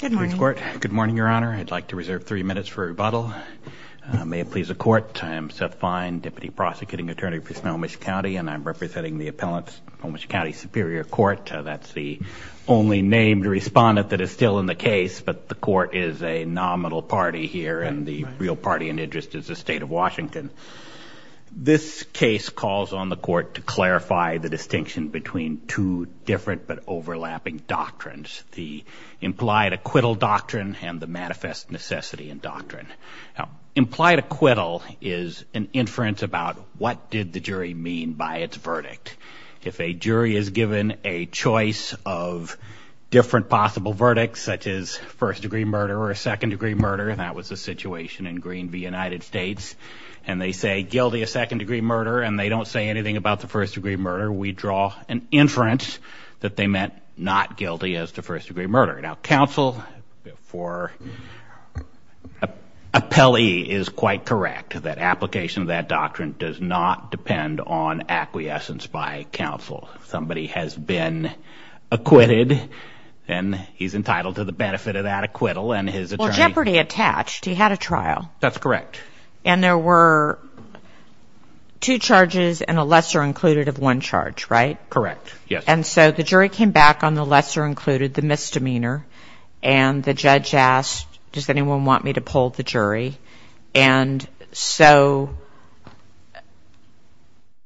Good morning, Your Honor. I'd like to reserve three minutes for rebuttal. May it please the Court. I am Seth Fine, Deputy Prosecuting Attorney for Snohomish County, and I'm representing the appellants of Snohomish County Superior Court. That's the only named respondent that is still in the case, but the court is a nominal party here, and the real party in interest is the state of Washington. This case calls on the court to clarify the distinction between two different but overlapping doctrines, the implied acquittal doctrine and the manifest necessity and doctrine. Now, implied acquittal is an inference about what did the jury mean by its verdict. If a jury is given a choice of different possible verdicts such as first-degree murder or a second-degree murder, and that was the situation in Green v. United States, and they say guilty of second-degree murder and they don't say anything about the first-degree murder, we draw an inference that they meant not guilty as to first-degree murder. Now, counsel for appellee is quite correct that application of that doctrine does not depend on acquiescence by counsel. Somebody has been acquitted and he's entitled to the benefit of that acquittal and his attorney... Well, Jeopardy Attached, he had a trial. That's correct. And there were two charges and a lesser included of one charge, right? Correct, yes. And so the jury came back on the lesser included, the misdemeanor, and the judge asked, does anyone want me to poll the jury? And so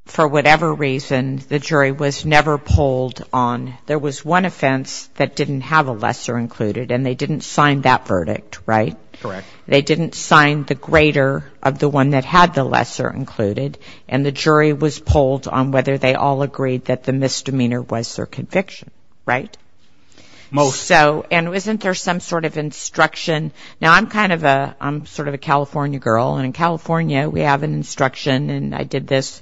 for whatever reason, the jury was never polled on. There was one offense that didn't have a lesser included and they didn't sign that verdict, right? Correct. They didn't sign the greater of the one that had the lesser included and the jury was polled on whether they all agreed that the misdemeanor was their conviction, right? Most. So, and wasn't there some sort of instruction? Now, I'm kind of a, I'm sort of a California girl and in California we have an instruction and I did this.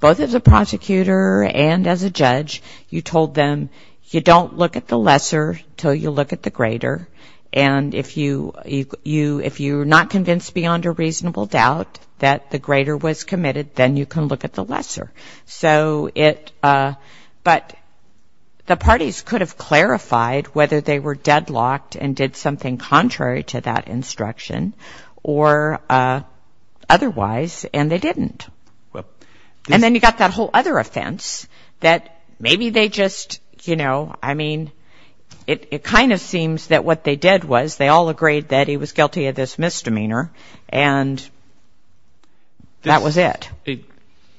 Both as a prosecutor and as a judge, you told them you don't look at the lesser till you look at the greater and if you, you, if you're not convinced beyond a reasonable doubt that the greater was committed, then you can look at the lesser. So it, but the parties could have clarified whether they were deadlocked and did something contrary to that instruction or otherwise and they didn't. And then you got that whole other offense that maybe they just, you know, I mean, it kind of seems that what they did was they all agreed that he was guilty of this misdemeanor and that was it.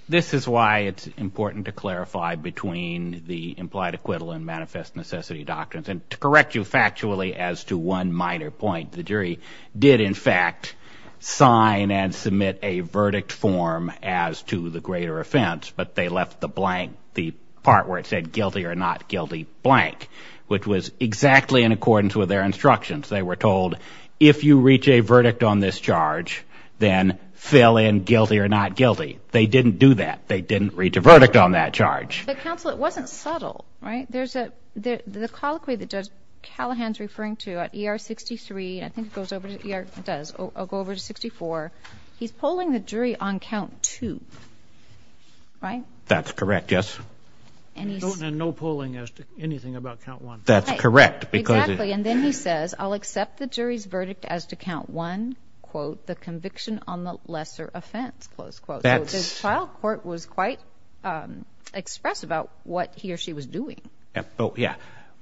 This is why it's important to clarify between the implied acquittal and manifest necessity doctrines and to correct you factually as to one minor point, the jury did in fact sign and submit a verdict form as to the greater offense but they left the blank, the part where it said guilty or not guilty blank, which was exactly in If you reach a verdict on this charge, then fill in guilty or not guilty. They didn't do that. They didn't reach a verdict on that charge. But counsel, it wasn't subtle, right? There's a, the colloquy that Judge Callahan's referring to at ER 63, I think it goes over to ER, it does. I'll go over to 64. He's polling the jury on count two, right? That's correct, yes. And no polling as to anything about count one. That's correct. Exactly. And then he says, I'll accept the jury's verdict as to count one, quote, the conviction on the lesser offense, close quote. That's child court was quite expressed about what he or she was doing. Oh yeah.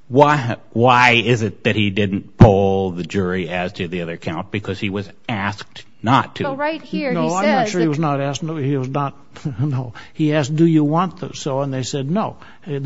Why, why is it that he didn't poll the jury as to the other count? Because he was asked not to. Right here. No, I'm not sure he was not asked. No, he was not. No, he asked, do you want this? So, and they said, no, they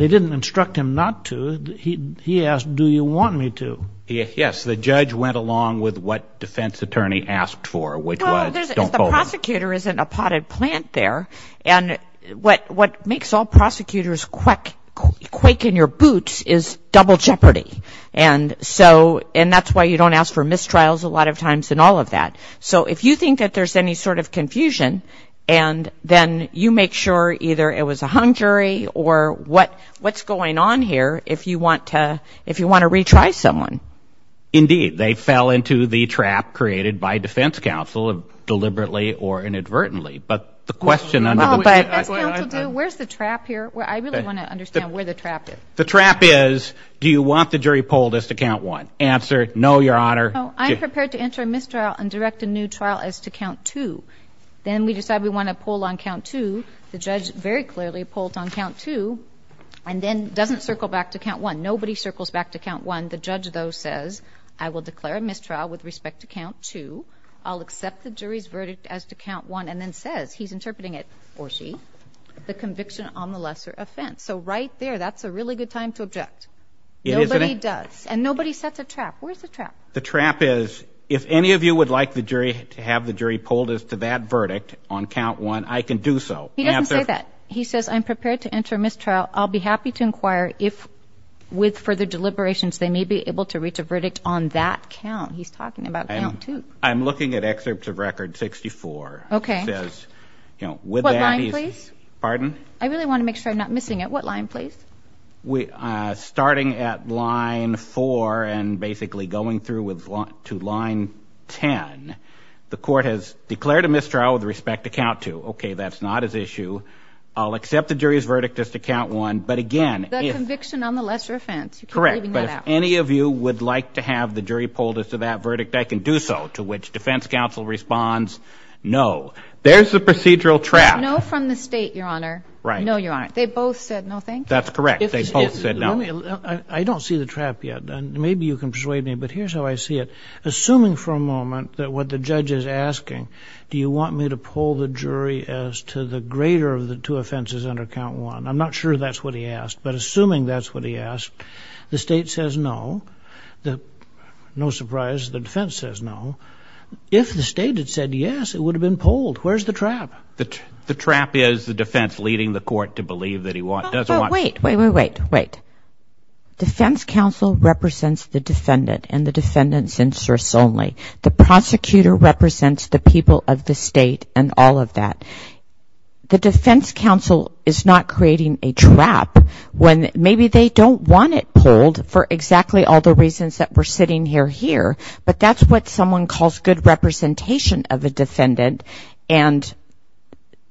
went along with what defense attorney asked for, which was the prosecutor isn't a potted plant there. And what, what makes all prosecutors quack, quake in your boots is double jeopardy. And so, and that's why you don't ask for mistrials a lot of times in all of that. So if you think that there's any sort of confusion, and then you make sure either it was a hung jury or what, what's going on here, if you want to, if you want to retry someone. Indeed, they fell into the trap created by defense counsel of deliberately or inadvertently. But the question, where's the trap here? I really want to understand where the trap is. The trap is, do you want the jury polled as to count one answer? No, your honor. I'm prepared to enter a mistrial and direct a new trial as to count two. Then we decided we want to pull on count two. The judge very clearly pulled on count two and then doesn't circle back to count one. Nobody circles back to count one. The judge though says, I will declare a mistrial with respect to count two. I'll accept the jury's verdict as to count one and then says, he's interpreting it or she, the conviction on the lesser offense. So right there, that's a really good time to object. Nobody does. And nobody sets a trap. Where's the trap? The trap is, if any of you would like the jury to have the jury pulled as to that verdict on count one, I can do so. He doesn't say that. He says, I'm prepared to enter mistrial. I'll be happy to inquire if with further deliberations, they may be able to reach a verdict on that count. He's talking about count two. I'm looking at excerpts of record 64. Okay. It says, you know, with that, pardon? I really want to make sure I'm not missing it. What line please? We, uh, starting at line four and basically going through with one to line 10, the court has declared a mistrial with respect to count two. Okay. That's not as issue. I'll accept the jury's count one. But again, the conviction on the lesser offense, correct. But if any of you would like to have the jury pulled as to that verdict, I can do so. To which defense counsel responds. No, there's the procedural trap. No, from the state, your honor. No, you're right. They both said no. Thank you. That's correct. They both said no. I don't see the trap yet. And maybe you can persuade me, but here's how I see it. Assuming for a moment that what the judge is asking, do you want me to pull the jury as to the greater of the two offenses under count one? I'm not sure that's what he asked, but assuming that's what he asked, the state says no. The, no surprise, the defense says no. If the state had said yes, it would have been pulled. Where's the trap? The, the trap is the defense leading the court to believe that he want, does want. Wait, wait, wait, wait. Defense counsel represents the defendant and the defendant's inserts only. The prosecutor represents the people of the state and all of that. The defense counsel is not creating a trap when maybe they don't want it pulled for exactly all the reasons that we're sitting here here. But that's what someone calls good representation of a defendant. And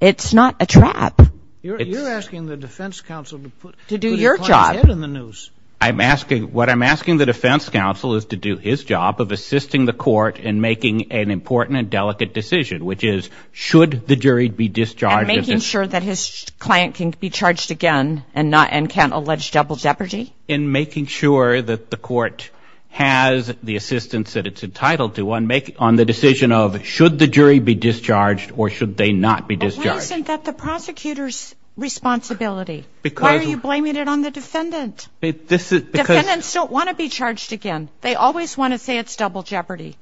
it's not a trap. You're asking the defense counsel to put, to do your job in the noose. I'm asking, what I'm asking the defense counsel is to do his job of assisting the court in making an important and delicate decision, which is should the jury be discharged. In making sure that his client can be charged again and not, and can't allege double jeopardy? In making sure that the court has the assistance that it's entitled to on making, on the decision of should the jury be discharged or should they not be discharged? But why isn't that the prosecutor's responsibility? Because. Why are you blaming it on the defendant? This is because. Defendants don't want to be charged again. They always want to say it's double jeopardy.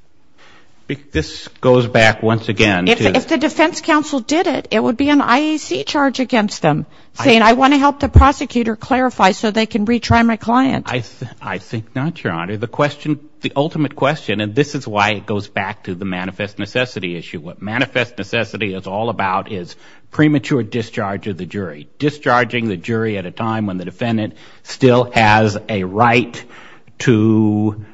This goes back once again. If the defense counsel did it, it would be an IEC charge against them. Saying I want to help the prosecutor clarify so they can retry my client. I, I think not, your honor. The question, the ultimate question, and this is why it goes back to the manifest necessity issue. What manifest necessity is all about is premature discharge of the jury. Discharging the jury at a time when the defendant still has a right to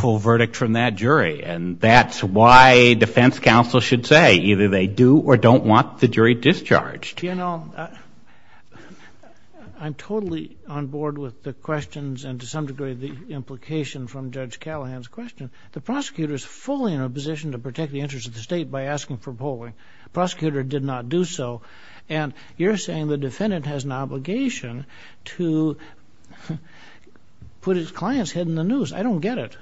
full verdict from that jury. And that's why defense counsel should say either they do or don't want the jury discharged. You know, I'm totally on board with the questions and to some degree the implication from Judge Callahan's question. The prosecutor is fully in a position to protect the interest of the state by asking for polling. Prosecutor did not do so. And you're saying the defendant has an obligation to put his client's head in the noose. I don't get it.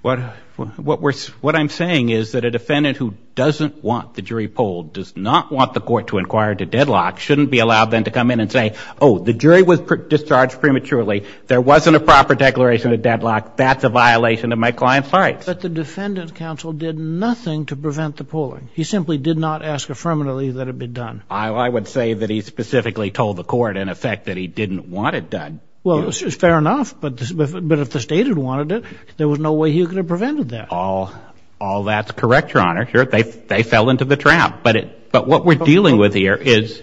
What, what we're, what I'm saying is that a defendant who doesn't want the jury polled, does not want the court to inquire to deadlock, shouldn't be allowed then to come in and say, oh, the jury was discharged prematurely. There wasn't a proper declaration of deadlock. That's a violation of my client's rights. But the defendant counsel did nothing to prevent the polling. He simply did not ask affirmatively that it be done. I, I would say that he specifically told the court in effect that he didn't want it done. Well, it's fair enough, but, but if the state had wanted it, there was no way he would have asked for it. They, they fell into the trap, but it, but what we're dealing with here is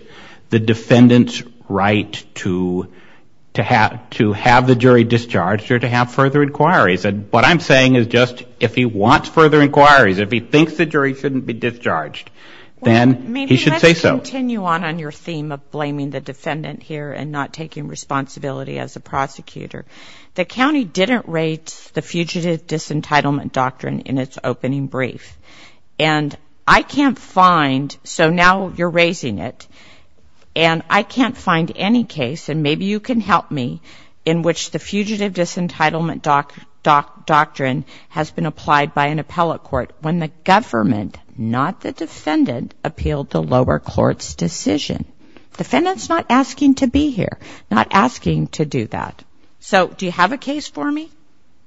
the defendant's right to, to have, to have the jury discharged or to have further inquiries. And what I'm saying is just, if he wants further inquiries, if he thinks the jury shouldn't be discharged, then he should say so. Maybe let's continue on, on your theme of blaming the defendant here and not taking responsibility as a prosecutor. The county didn't rate the And I can't find, so now you're raising it, and I can't find any case, and maybe you can help me, in which the Fugitive Disentitlement Doctrine has been applied by an appellate court when the government, not the defendant, appealed the lower court's decision. The defendant's not asking to be here, not asking to do that. So, do you have a case for me?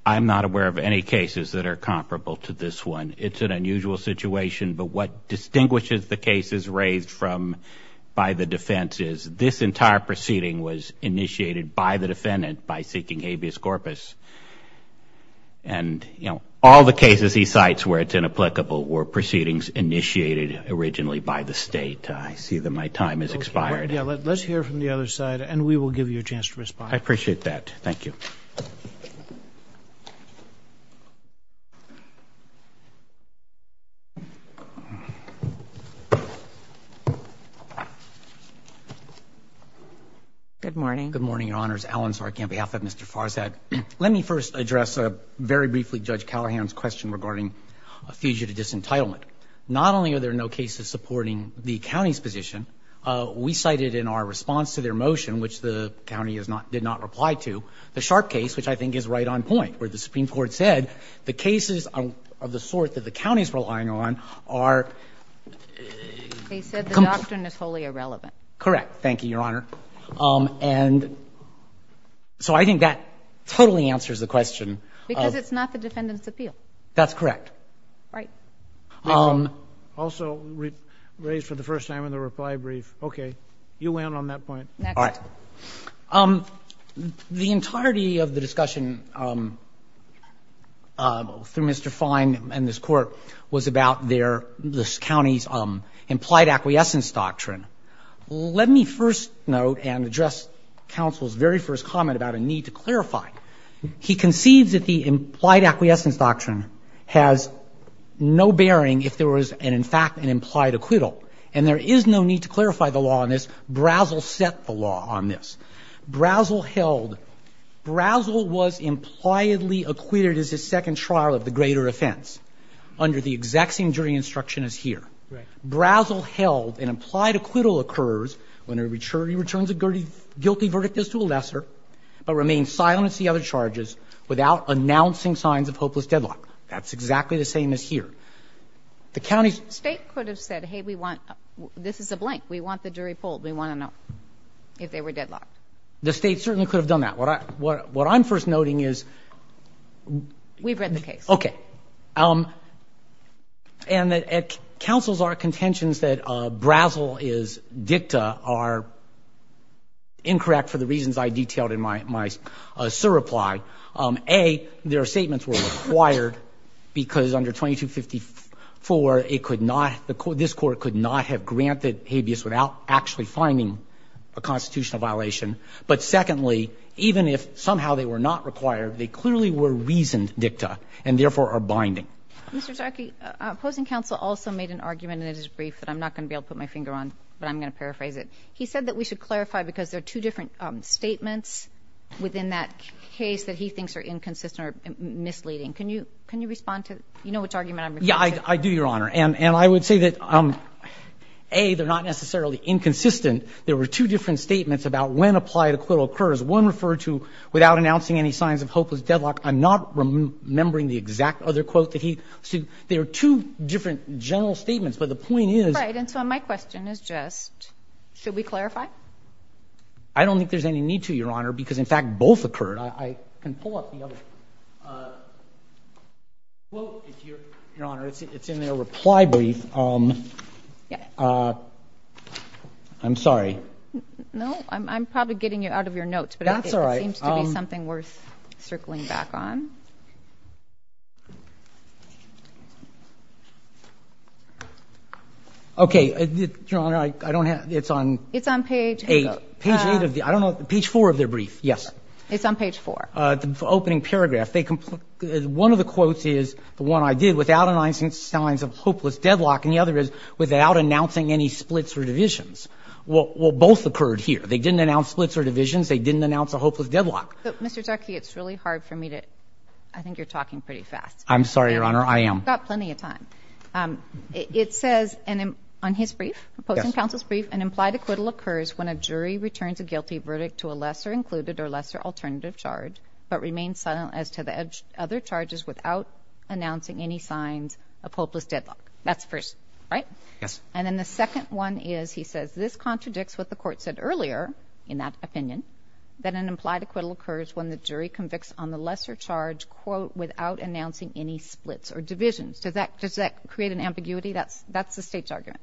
I'm not aware of any cases that are comparable to this one. It's an unusual situation, but what distinguishes the cases raised from, by the defense is this entire proceeding was initiated by the defendant by seeking habeas corpus. And, you know, all the cases he cites where it's inapplicable were proceedings initiated originally by the state. I see that my time has expired. Let's hear from the other side, and we will give you a chance to respond. I appreciate that. Thank you. Good morning. Good morning, Your Honors. Alan Zarki on behalf of Mr. Farzad. Let me first address, very briefly, Judge Callahan's question regarding a fugitive disentitlement. Not only are there no cases supporting the county's position, we cited in our response to their motion, which the county did not reply to, the Sharp case, which I think is right on point, where the Supreme Court said the cases of the sort that the county's relying on are... They said the doctrine is wholly irrelevant. Correct. Thank you, Your Honor. And so I think that totally answers the question. Because it's not the defendant's appeal. That's correct. Right. Also raised for the first time in the reply brief. Okay. You win on that point. Next. All right. The entirety of the discussion through Mr. Fine and this Court was about their, this county's implied acquiescence doctrine. Let me first note and address counsel's very first comment about a need to clarify. He concedes that the implied acquiescence doctrine has no bearing if there was, in fact, an implied acquittal. And there is no need to clarify the law on this. Brazel set the law on this. Brazel held, Brazel was impliedly acquitted as his second trial of the greater offense under the exact same jury instruction as here. Right. Brazel held an implied acquittal occurs when a returnee returns a guilty verdict as to a lesser, but remains silent as to the other charges without announcing signs of hopeless deadlock. That's exactly the same as here. The county's... The state could have said, hey, we want, this is a blank. We want the jury pulled. We want to know if they were deadlocked. The state certainly could have done that. What I'm first noting is... We've read the case. Okay. And that counsel's are contentions that Brazel is dicta are incorrect for the reasons I detailed in my surreply. A, their statements were required because under 2254, it could not, the court, this court could not have granted habeas without actually finding a constitutional violation. But secondly, even if somehow they were not required, they clearly were reasoned dicta and therefore are binding. Mr. Zarke, opposing counsel also made an argument in his brief that I'm not going to be able to put my finger on, but I'm going to paraphrase it. He said that we should clarify because there are two different statements within that case that he thinks are inconsistent or misleading. Can you respond to, you know which argument I'm referring to? Yeah, I do, Your Honor. And I would say that, A, they're not necessarily inconsistent. There were two different statements about when applied acquittal occurs. One referred to without announcing any signs of hopeless deadlock. I'm not remembering the exact other quote that he, there are two different general statements, but the point is... Right. And so my question is just, should we clarify? I don't think there's any need to, Your Honor, because in fact, both occurred. I can pull up the other quote, Your Honor. It's in their reply brief. I'm sorry. No, I'm probably getting it out of your notes, but it seems to be something worth circling back on. Okay. Your Honor, I don't have, it's on... It's on page eight. Page eight of the, I don't know, page four of their brief. Yes. It's on page four. The opening paragraph. They, one of the quotes is the one I did, without announcing signs of hopeless deadlock, and the other is without announcing any splits or divisions. Well, both occurred here. They didn't announce splits or divisions. They didn't announce a hopeless deadlock. But, Mr. Duckey, it's really hard for me to, I think you're talking pretty fast. I'm sorry, Your Honor. I am. You've got plenty of time. It says, on his brief, opposing counsel's brief, an implied acquittal occurs when a jury convicts on the lesser alternative charge, but remains silent as to the other charges without announcing any signs of hopeless deadlock. That's the first, right? Yes. And then the second one is, he says, this contradicts what the court said earlier, in that opinion, that an implied acquittal occurs when the jury convicts on the lesser charge, quote, without announcing any splits or divisions. Does that, does that create an ambiguity? That's, that's the state's argument.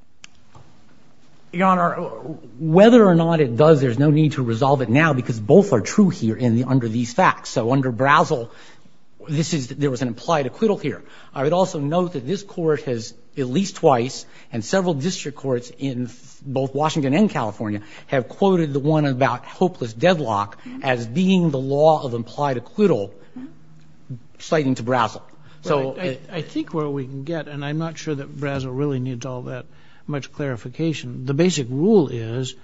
Your Honor, whether or not it does, there's no need to resolve it now, because both are true here in the, under these facts. So, under Brazel, this is, there was an implied acquittal here. I would also note that this court has, at least twice, and several district courts in both Washington and California, have quoted the one about hopeless deadlock as being the law of implied acquittal, citing to Brazel. So. I think where we can get, and I'm not sure that Brazel really needs all that much clarification, the basic rule is,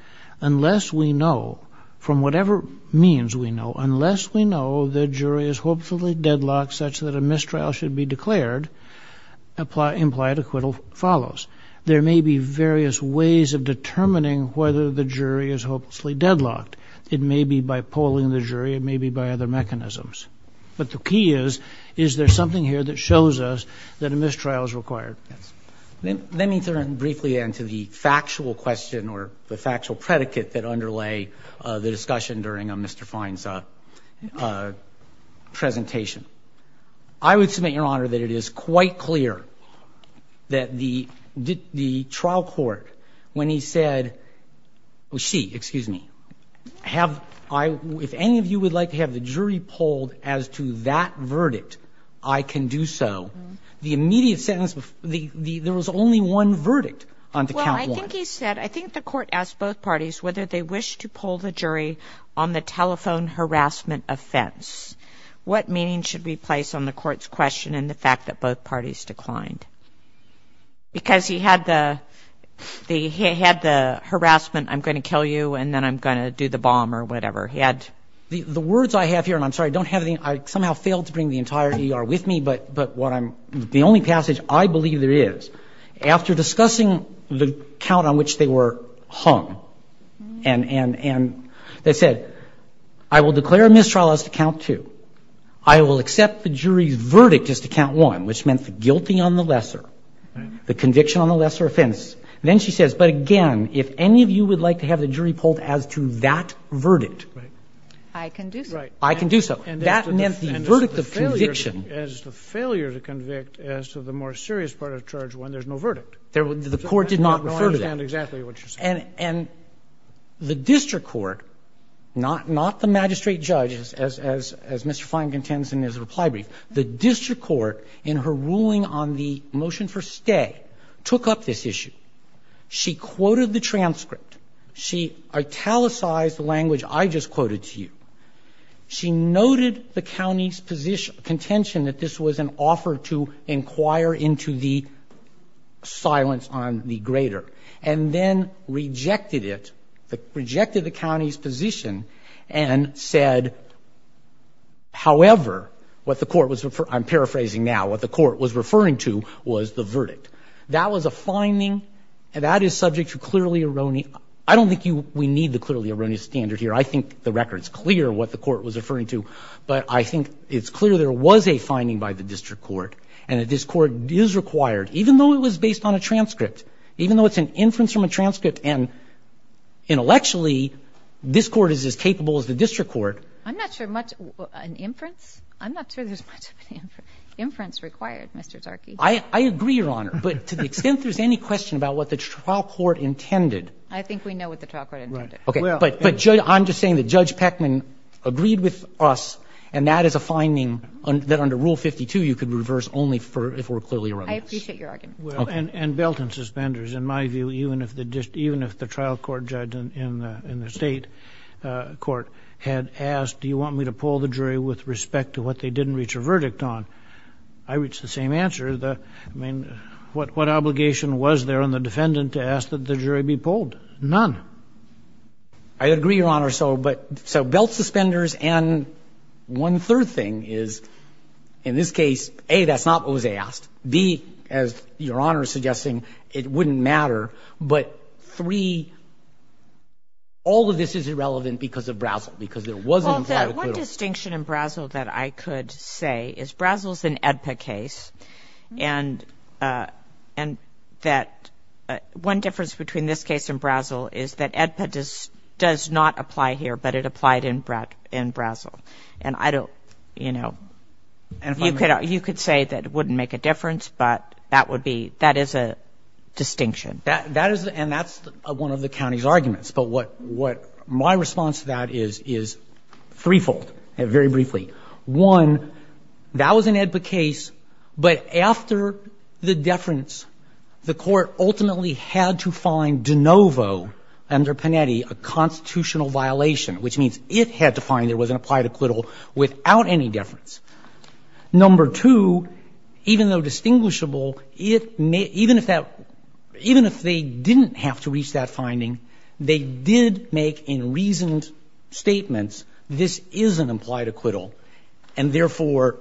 unless we know, from whatever means we know, unless we know the jury is hopefully deadlocked such that a mistrial should be declared, apply, implied acquittal follows. There may be various ways of determining whether the jury is hopelessly deadlocked. It may be by polling the jury, it may be by other mechanisms. But the key is, is there something here that shows us that a mistrial is required? Yes. Let me turn briefly then to the factual question, or the factual predicate, that underlay the discussion during Mr. Fine's presentation. I would submit, Your Honor, that it is quite clear that the trial court, when he said, she, excuse me, have, if any of you would like to have the jury polled as to that verdict, I can do so, the immediate sentence, there was only one verdict on to count one. Well, I think he said, I think the court asked both parties whether they wish to poll the jury on the telephone harassment offense. What meaning should we place on the court's question and the fact that both parties declined? Because he had the, he had the harassment, I'm going to kill you, and then I'm going to do the bomb, or whatever. He had, the words I have here, and I'm sorry, I don't have any, I somehow failed to bring the entire ER with me, but what I'm, the only passage I believe there is, after discussing the count on which they were hung, and they said, I will declare a mistrial as to count two. I will accept the jury's verdict as to count one, which meant the guilty on the lesser, the conviction on the lesser offense. Then she says, but again, if any of you would like to have the jury polled as to that verdict, I can do so. And that meant the verdict of conviction. And as to the failure to convict as to the more serious part of charge one, there's no verdict. The court did not refer to that. I don't understand exactly what you're saying. And the district court, not the magistrate judge, as Mr. Flank intends in his reply brief, the district court in her ruling on the motion for stay took up this issue. She quoted the transcript. She italicized the language I just quoted to you. She noted the county's position, contention that this was an offer to inquire into the silence on the greater. And then rejected it, rejected the county's position and said, however, what the court was, I'm paraphrasing now, what the court was referring to was the verdict. That was a finding and that is subject to clearly erroneous. I don't think we need the clearly erroneous standard here. I think the record's clear what the court was referring to. But I think it's clear there was a finding by the district court. And that this court is required, even though it was based on a transcript, even though it's an inference from a transcript and intellectually, this court is as capable as the district court. I'm not sure much, an inference? I'm not sure there's much of an inference required, Mr. Tarky. I agree, Your Honor. But to the extent there's any question about what the trial court intended. I think we know what the trial court intended. Okay, but I'm just saying that Judge Peckman agreed with us and that is a finding that under Rule 52, you could reverse only if we're clearly erroneous. I appreciate your argument. Well, and belt and suspenders. In my view, even if the trial court judge in the state court had asked, do you want me to pull the jury with respect to what they didn't reach a verdict on? I reached the same answer. I mean, what obligation was there on the defendant to ask that the jury be pulled? I agree, Your Honor. So belt, suspenders, and one third thing is, in this case, A, that's not what was asked, B, as Your Honor is suggesting, it wouldn't matter. But three, all of this is irrelevant because of Brazile, because there wasn't- Well, the one distinction in Brazile that I could say is Brazile's an AEDPA case, and that one difference between this case and Brazile is that AEDPA does not apply here, but it applied in Brazile. And I don't, you know, you could say that it wouldn't make a difference, but that would be, that is a distinction. But what my response to that is, is threefold, very briefly. One, that was an AEDPA case, but after the deference, the court ultimately had to find de novo under Panetti a constitutional violation, which means it had to find there was an applied acquittal without any deference. Number two, even though distinguishable, even if they didn't have to reach that conclusion, they did make in reasoned statements, this is an implied acquittal. And therefore,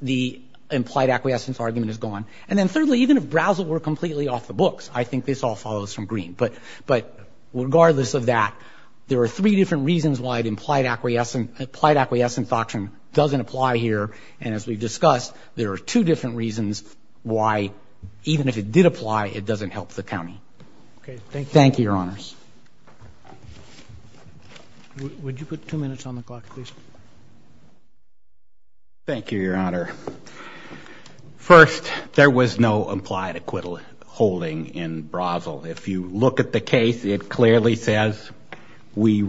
the implied acquiescence argument is gone. And then thirdly, even if Brazile were completely off the books, I think this all follows from Green. But regardless of that, there are three different reasons why the implied acquiescence doctrine doesn't apply here. And as we've discussed, there are two different reasons why, even if it did apply, it doesn't help the county. Thank you, Your Honors. Would you put two minutes on the clock, please? Thank you, Your Honor. First, there was no implied acquittal holding in Brazile. If you look at the case, it clearly says, we,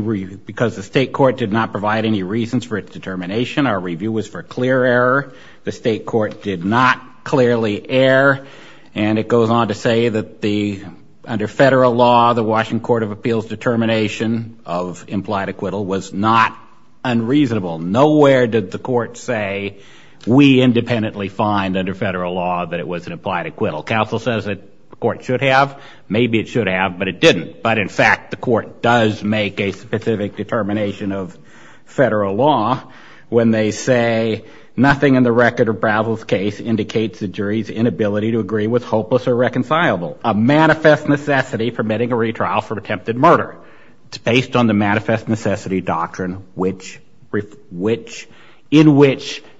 because the state court did not provide any reasons for its determination. Our review was for clear error. The state court did not clearly err. And it goes on to say that under federal law, the Washington Court of Appeals determination of implied acquittal was not unreasonable. Nowhere did the court say, we independently find under federal law that it was an implied acquittal. Counsel says that the court should have. Maybe it should have, but it didn't. But in fact, the court does make a specific determination of federal law when they say, nothing in the record of Brazile's case indicates the jury's inability to agree with hopeless or reconcilable. A manifest necessity permitting a retrial for attempted murder. It's based on the manifest necessity doctrine in which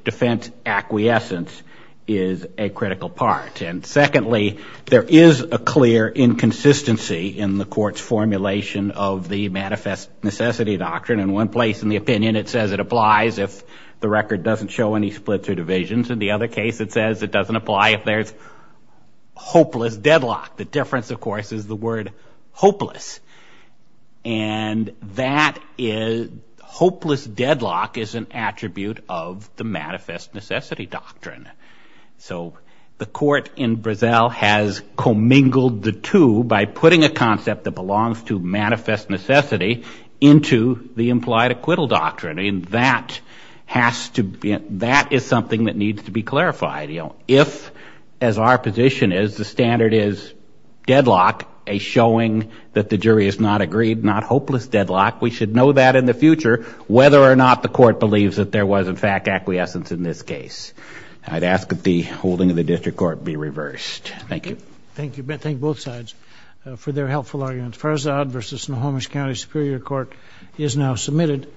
defense acquiescence is a critical part. And secondly, there is a clear inconsistency in the court's formulation of the manifest necessity doctrine. In one place in the opinion, it says it applies if the record doesn't show any splits or divisions. In the other case, it says it doesn't apply if there's hopeless deadlock. The difference, of course, is the word hopeless. And hopeless deadlock is an attribute of the manifest necessity doctrine. So the court in Brazil has commingled the two by putting a concept that belongs to manifest necessity into the implied acquittal doctrine. That is something that needs to be clarified. If, as our position is, the standard is deadlock, a showing that the jury has not agreed, not hopeless deadlock, we should know that in the future, whether or not the court believes that there was, in fact, acquiescence in this case. I'd ask that the holding of the district court be reversed. Thank you. Thank you. Thank both sides for their helpful arguments. Farzad versus Snohomish County Superior Court is now submitted.